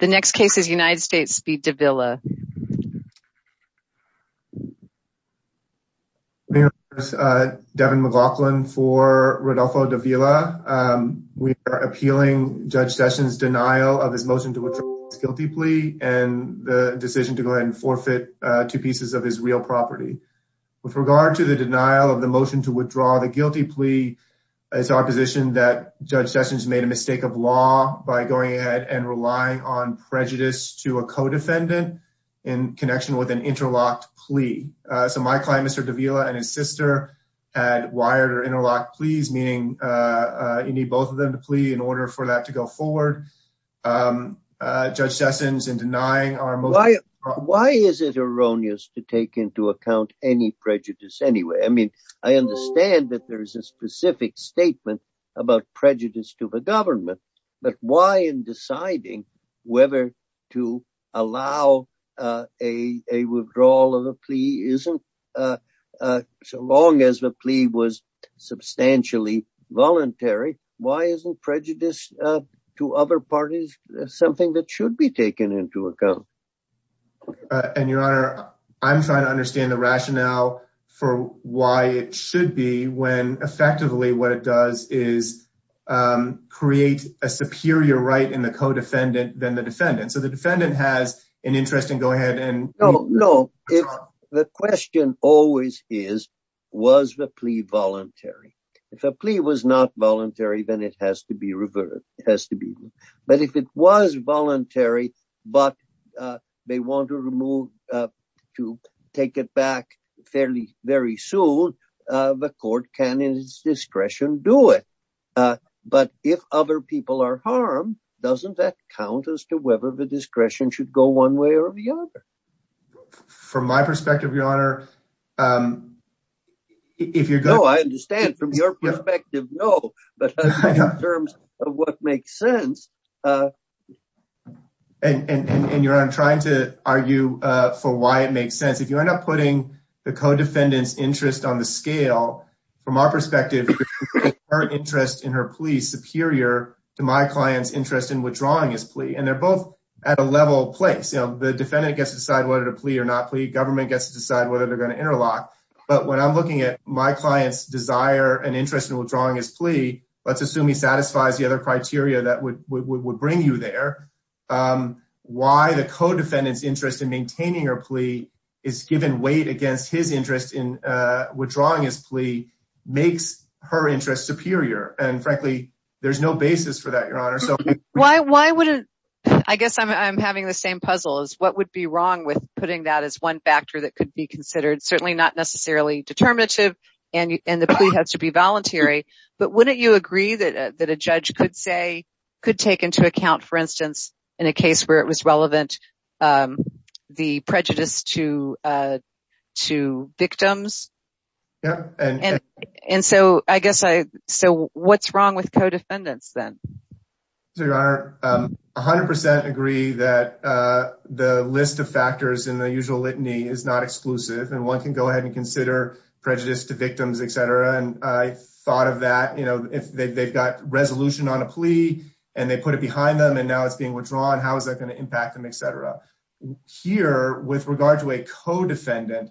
The next case is United States v. Davila. Devin McLaughlin for Rodolfo Davila. We are appealing Judge Sessions' denial of his motion to withdraw his guilty plea and the decision to go ahead and forfeit two pieces of his real property. With regard to the denial of the motion to withdraw the guilty plea, it's our position that Judge Sessions made a mistake of law by going ahead and relying on prejudice to a co-defendant in connection with an interlocked plea. So my client, Mr. Davila, and his sister had wired or interlocked pleas, meaning you need both of them to plea in order for that to go forward. Judge Sessions, in denying our motion... Why is it erroneous to take into account any statement about prejudice to the government? But why in deciding whether to allow a withdrawal of a plea isn't, so long as the plea was substantially voluntary, why isn't prejudice to other parties something that should be taken into account? And, Your Honor, I'm trying to understand the rationale for why it should be when effectively what it does is create a superior right in the co-defendant than the defendant. So the defendant has an interest in go ahead and... No, no. The question always is, was the plea voluntary? If a plea was not voluntary, then it has to be reverted. It has to be. But if it was voluntary, but they want to remove, to take it back fairly very soon, the court can, in its discretion, do it. But if other people are harmed, doesn't that count as to whether the discretion should go one way or the other? From my perspective, Your Honor, if you're... No, I understand. From your perspective, no. But in terms of what makes sense... And, Your Honor, I'm trying to argue for why it makes sense. If you end up putting the co-defendant's interest on the scale, from our perspective, her interest in her plea is superior to my client's interest in withdrawing his plea. And they're both at a level place. The defendant gets to decide whether to plea or not plea. Government gets to decide whether they're going to interlock. But when I'm looking at my client's desire and interest in withdrawing his plea, let's assume he satisfies the other criteria that would bring you there. Why the co-defendant's interest in maintaining her plea is given weight against his interest in withdrawing his plea makes her interest superior. And frankly, there's no basis for that, Your Honor. So why wouldn't... I guess I'm having the same puzzle as what would be wrong with putting that as one factor that could be considered certainly not necessarily determinative and the plea has to be voluntary. But wouldn't you agree that a judge could take into account, for instance, in a case where it was relevant, the prejudice to victims? And so I guess I... So what's wrong with co-defendants then? So, Your Honor, I 100% agree that the list of factors in the usual litany is not exclusive. And one can go ahead and consider prejudice to victims, etc. And I thought of that, if they've got resolution on a plea and they put it behind them and now it's being withdrawn, how is that going to impact them, etc. Here, with regard to a co-defendant,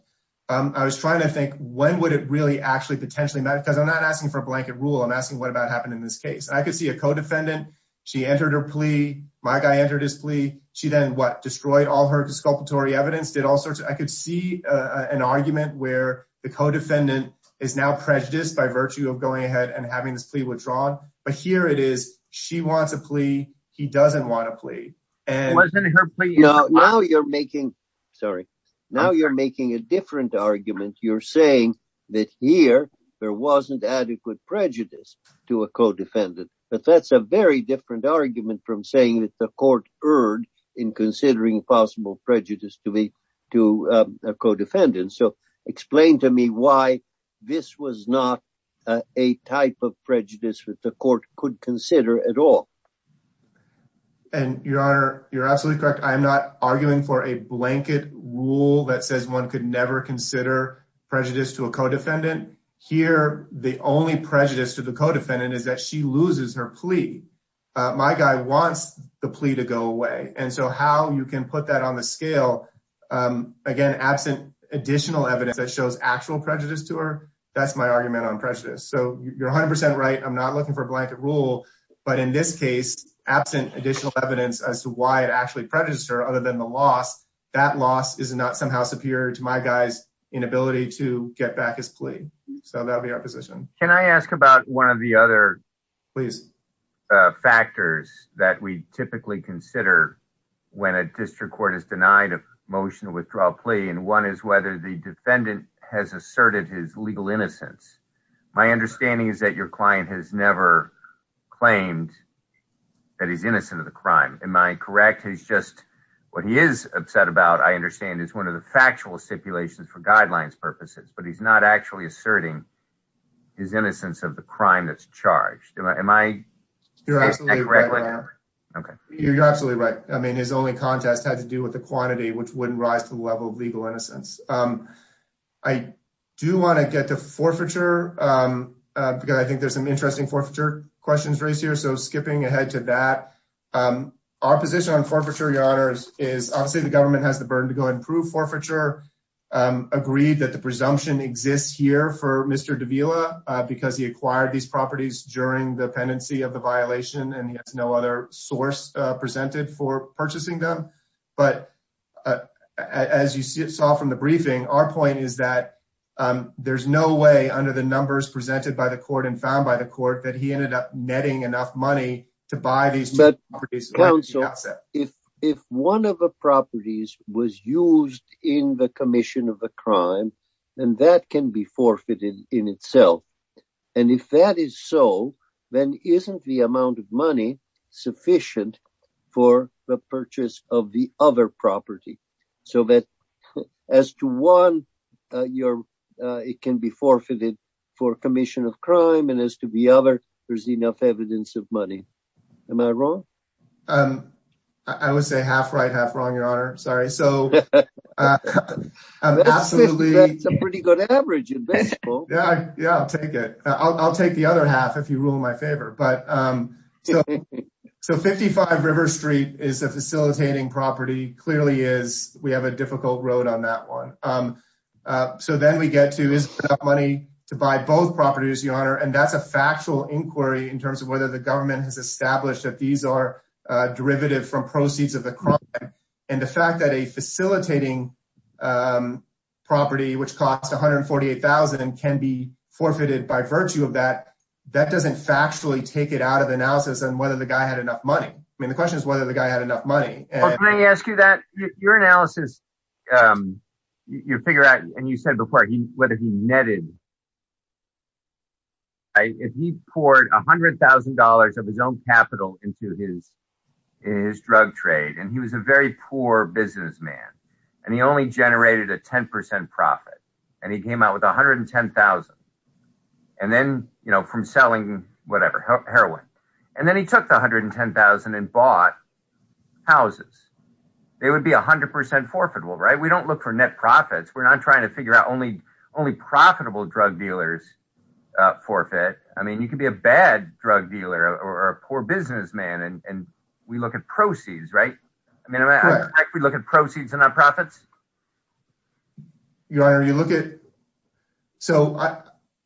I was trying to think, when would it really actually potentially matter? Because I'm not asking for a blanket rule. I'm asking, what about happened in this case? I could see a co-defendant. She entered her plea. My guy entered his plea. She then what? Destroyed all her exculpatory evidence, did all sorts of... I could see an argument where the co-defendant is now prejudiced by virtue of going ahead and having this plea withdrawn. But here it is. She wants a plea. He doesn't want a plea. Now you're making... Sorry. Now you're making a different argument. You're saying that here, there wasn't adequate prejudice to a co-defendant. But that's a very different argument from saying that the court erred in considering possible prejudice to a co-defendant. So explain to me why this was not a type of prejudice that the court could consider at all. And Your Honor, you're absolutely correct. I'm not arguing for a blanket rule that says one could consider prejudice to a co-defendant. Here, the only prejudice to the co-defendant is that she loses her plea. My guy wants the plea to go away. And so how you can put that on the scale, again, absent additional evidence that shows actual prejudice to her, that's my argument on prejudice. So you're 100% right. I'm not looking for a blanket rule. But in this case, absent additional evidence as to why it actually prejudiced her other than the loss, that loss is not somehow superior to my guy's inability to get back his plea. So that would be our position. Can I ask about one of the other factors that we typically consider when a district court is denied a motion to withdraw a plea? And one is whether the defendant has asserted his legal innocence. My understanding is that your I understand is one of the factual stipulations for guidelines purposes, but he's not actually asserting his innocence of the crime that's charged. Am I correct? You're absolutely right. I mean, his only contest had to do with the quantity, which wouldn't rise to the level of legal innocence. I do want to get to forfeiture because I think there's some interesting forfeiture questions raised here. So skipping ahead to that. Our position on forfeiture, Your Honor, is obviously the government has the burden to go and prove forfeiture, agreed that the presumption exists here for Mr. Davila because he acquired these properties during the pendency of the violation, and he has no other source presented for purchasing them. But as you saw from the briefing, our point is that there's no way under the numbers presented by the court and found by the court that he ended up netting enough money to buy these. But counsel, if one of the properties was used in the commission of a crime, then that can be forfeited in itself. And if that is so, then isn't the amount of money sufficient for the purchase of the other property? So that as to one, it can be forfeited for commission of crime, and as to the other, there's enough evidence of money. Am I wrong? Um, I would say half right, half wrong, Your Honor. Sorry. So a pretty good average. Yeah, yeah, I'll take it. I'll take the other half if you rule in my favor. But so 55 River Street is a facilitating property clearly is we have a difficult road on that one. So then we get to is money to buy both properties, Your Honor. And that's a factual inquiry in terms of whether the government has established that these are derivative from proceeds of the crime. And the fact that a facilitating property, which costs 148,000 can be forfeited by virtue of that, that doesn't factually take it out of the analysis and whether the guy had enough money. I mean, the question is whether the guy had enough money. Let me ask you that your analysis. You figure out and you said before, whether he netted if he poured $100,000 of his own capital into his, his drug trade, and he was a very poor businessman. And he only generated a 10% profit. And he came out with 110,000. And then, you know, selling whatever heroin, and then he took the 110,000 and bought houses, they would be 100% forfeitable, right? We don't look for net profits. We're not trying to figure out only only profitable drug dealers forfeit. I mean, you can be a bad drug dealer or a poor businessman. And we look at proceeds, right? I mean, we look at proceeds and nonprofits. Your Honor, you look at so I,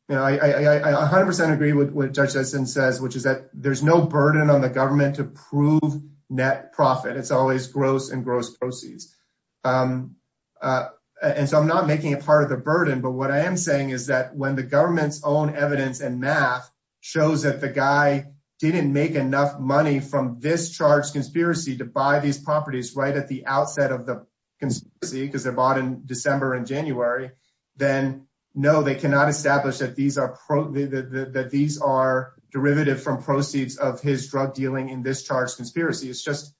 you know, I 100% agree with what judges and says, which is that there's no burden on the government to prove net profit. It's always gross and gross proceeds. And so I'm not making a part of the burden. But what I am saying is that when the government's own evidence and math shows that the guy didn't make enough money from this charge conspiracy to buy these properties right at the outset of the conspiracy, because they're bought in December and January, then no, they cannot establish that these are that these are derivative from proceeds of his drug dealing in this charge conspiracy. It's just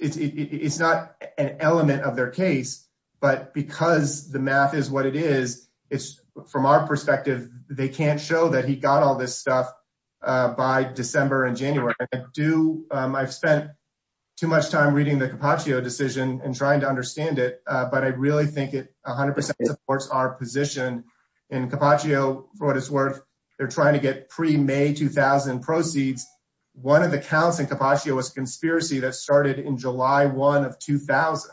it's not an element of their case. But because the math is what it is, it's from our perspective, they can't show that he got all this by December and January. I do. I've spent too much time reading the Capaccio decision and trying to understand it. But I really think it 100% supports our position in Capaccio for what it's worth. They're trying to get pre May 2000 proceeds. One of the counts in Capaccio was conspiracy that started in July one of 2000.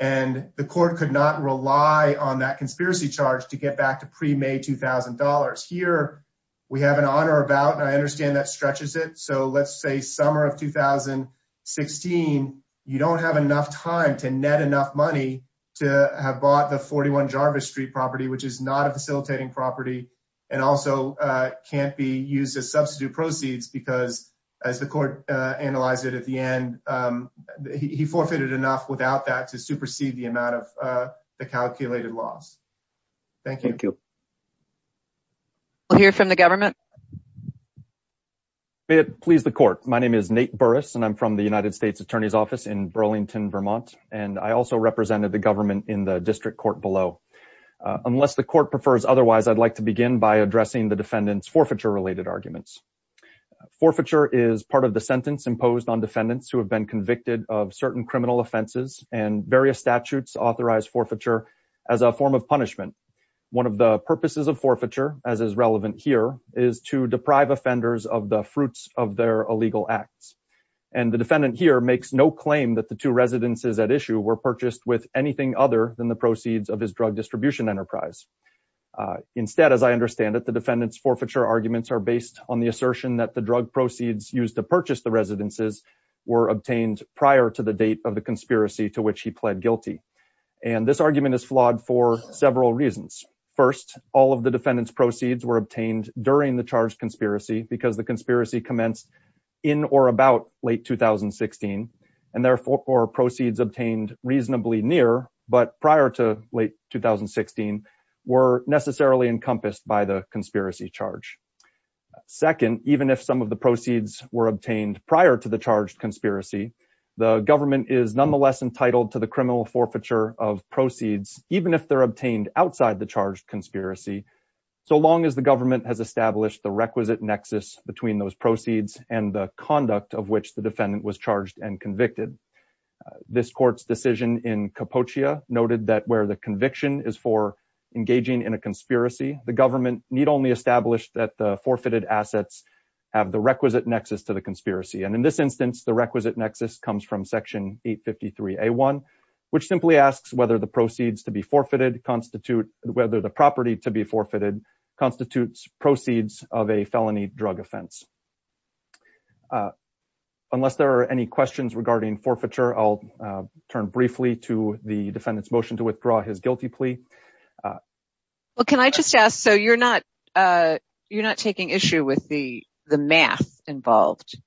And the court could not rely on that conspiracy charge to get back to pre May $2,000. Here, we have an honor about and I understand that stretches it. So let's say summer of 2016. You don't have enough time to net enough money to have bought the 41 Jarvis Street property, which is not a facilitating property, and also can't be used as substitute proceeds because as the court analyzed it at the end, he forfeited enough without that to supersede the amount of the calculated loss. Thank you. We'll hear from the government. Please the court. My name is Nate Burris, and I'm from the United States Attorney's Office in Burlington, Vermont. And I also represented the government in the district court below. Unless the court prefers otherwise, I'd like to begin by addressing the defendant's forfeiture related arguments. Forfeiture is part of the sentence imposed on defendants who have been authorized forfeiture as a form of punishment. One of the purposes of forfeiture, as is relevant here, is to deprive offenders of the fruits of their illegal acts. And the defendant here makes no claim that the two residences at issue were purchased with anything other than the proceeds of his drug distribution enterprise. Instead, as I understand it, the defendant's forfeiture arguments are based on the assertion that the drug proceeds used to purchase the residences were obtained prior to the date of the conspiracy to which he pled guilty. And this argument is flawed for several reasons. First, all of the defendant's proceeds were obtained during the charge conspiracy because the conspiracy commenced in or about late 2016. And therefore, or proceeds obtained reasonably near, but prior to late 2016 were necessarily encompassed by the conspiracy charge. Second, even if some of the proceeds were obtained prior to the conspiracy, the government is nonetheless entitled to the criminal forfeiture of proceeds, even if they're obtained outside the charge conspiracy, so long as the government has established the requisite nexus between those proceeds and the conduct of which the defendant was charged and convicted. This court's decision in Capocia noted that where the conviction is for engaging in a conspiracy, the government need only establish that the forfeited assets have the requisite nexus to the conspiracy. And in this instance, the requisite nexus comes from section 853A1, which simply asks whether the proceeds to be forfeited constitute, whether the property to be forfeited constitutes proceeds of a felony drug offense. Unless there are any questions regarding forfeiture, I'll turn briefly to the defendant's motion to withdraw his guilty plea. Well, can I just ask, so you're not, you're not taking issue with the math involved?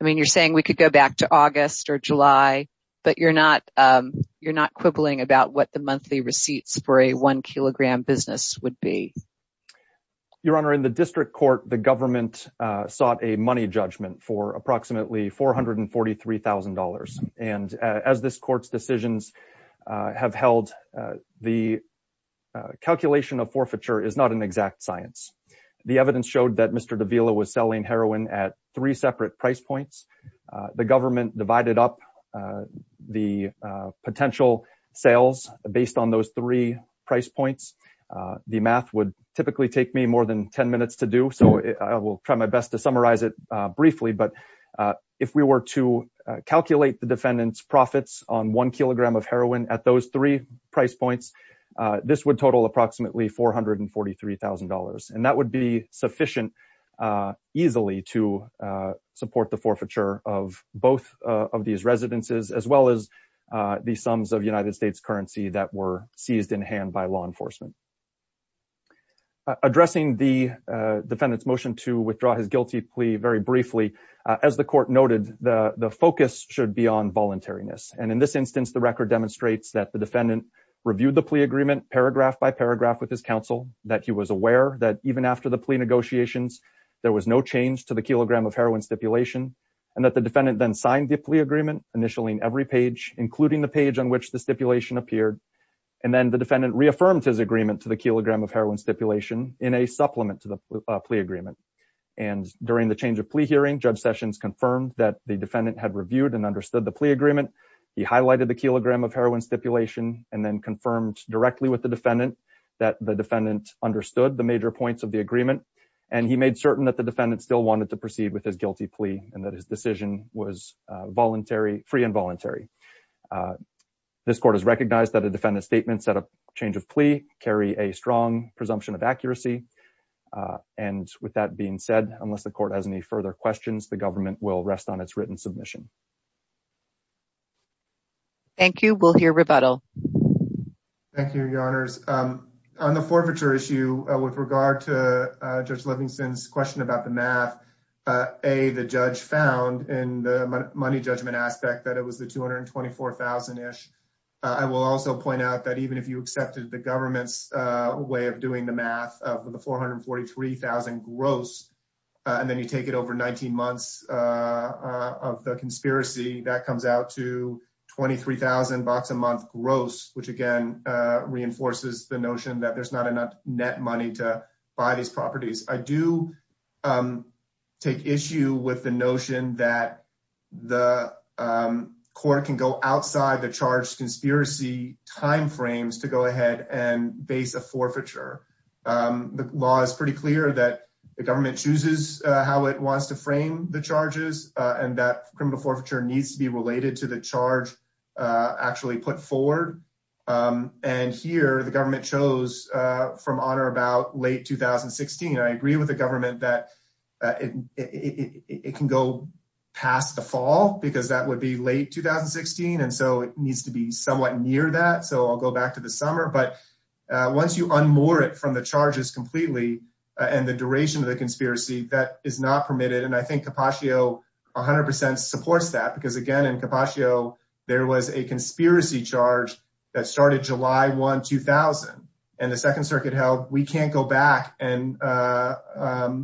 I mean, you're saying we could go back to August or July, but you're not, you're not quibbling about what the monthly receipts for a one kilogram business would be? Your Honor, in the district court, the government sought a money judgment for approximately $443,000. And as this court's decisions have held, the calculation of forfeiture is not an exact science. The evidence showed that Mr. Davila was selling heroin at three separate price points. The government divided up the potential sales based on those three price points. The math would typically take me more than 10 minutes to do, so I will try my best to summarize it briefly. But if we were to calculate the defendant's profits on one kilogram of heroin at those three price points, this would total approximately $443,000. And that would be sufficient easily to support the forfeiture of both of these residences, as well as the sums of United States currency that were seized in hand by law enforcement. Addressing the defendant's motion to withdraw his guilty plea very briefly, as the court noted, the focus should be on voluntariness. And in this instance, the record demonstrates that the defendant reviewed the plea agreement paragraph by paragraph with his counsel, that he was aware that even after the plea negotiations, there was no change to the kilogram of heroin stipulation, and that the defendant then signed the plea agreement, initially in every page, including the page on which the stipulation appeared. And then the defendant reaffirmed his agreement to the kilogram of heroin stipulation in a supplement to the plea agreement. And during the change of plea hearing, Judge Sessions confirmed that the defendant had reviewed and understood the plea agreement. He highlighted the kilogram of heroin stipulation, and then confirmed directly with the defendant that the defendant understood the major points of the agreement. And he made certain that the defendant still wanted to proceed with his guilty plea and that his decision was voluntary, free and voluntary. This court has recognized that defendant's statements at a change of plea carry a strong presumption of accuracy. And with that being said, unless the court has any further questions, the government will rest on its written submission. Thank you. We'll hear rebuttal. Thank you, Your Honors. On the forfeiture issue, with regard to Judge Livingston's question about the math, A, the judge found in the money judgment aspect that it was the $224,000-ish. I will also point out that even if you accepted the government's way of doing the math of the $443,000 gross, and then you take it over 19 months of the conspiracy, that comes out to $23,000 a month gross, which again reinforces the notion that there's not enough net money to buy these properties. I do take issue with the notion that the court can go outside the charged conspiracy time frames to go ahead and base a forfeiture. The law is pretty clear that the government chooses how it wants to frame the charges, and that criminal forfeiture needs to be related to the charge actually put forward. And here, the government chose from honor about late 2016. I agree with the government that it can go past the fall, because that would be late 2016. And so it needs to be somewhat near that. So I'll go back to the summer. But once you unmoor it from the charges completely, and the duration of the conspiracy, that is not permitted. And I think Capaccio 100% supports that. Because again, in Capaccio, there was a conspiracy charge that started July 1, 2000. And the Second Circuit held, we can't go back and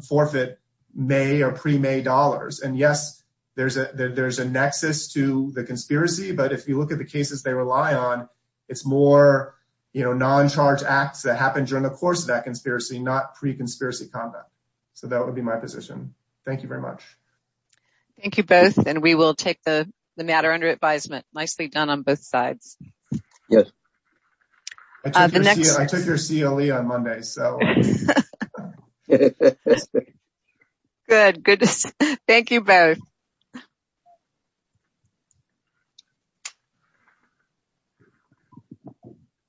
forfeit May or pre-May dollars. And yes, there's a nexus to the conspiracy. But if you look at the cases they rely on, it's more non-charge acts that happened during the course of that conspiracy, not pre-conspiracy conduct. So that would be my position. Thank you very much. Thank you both. And we will take the matter under advisement. Nicely done on both sides. Yes. I took your CLE on Monday, so. Good, good. Thank you both.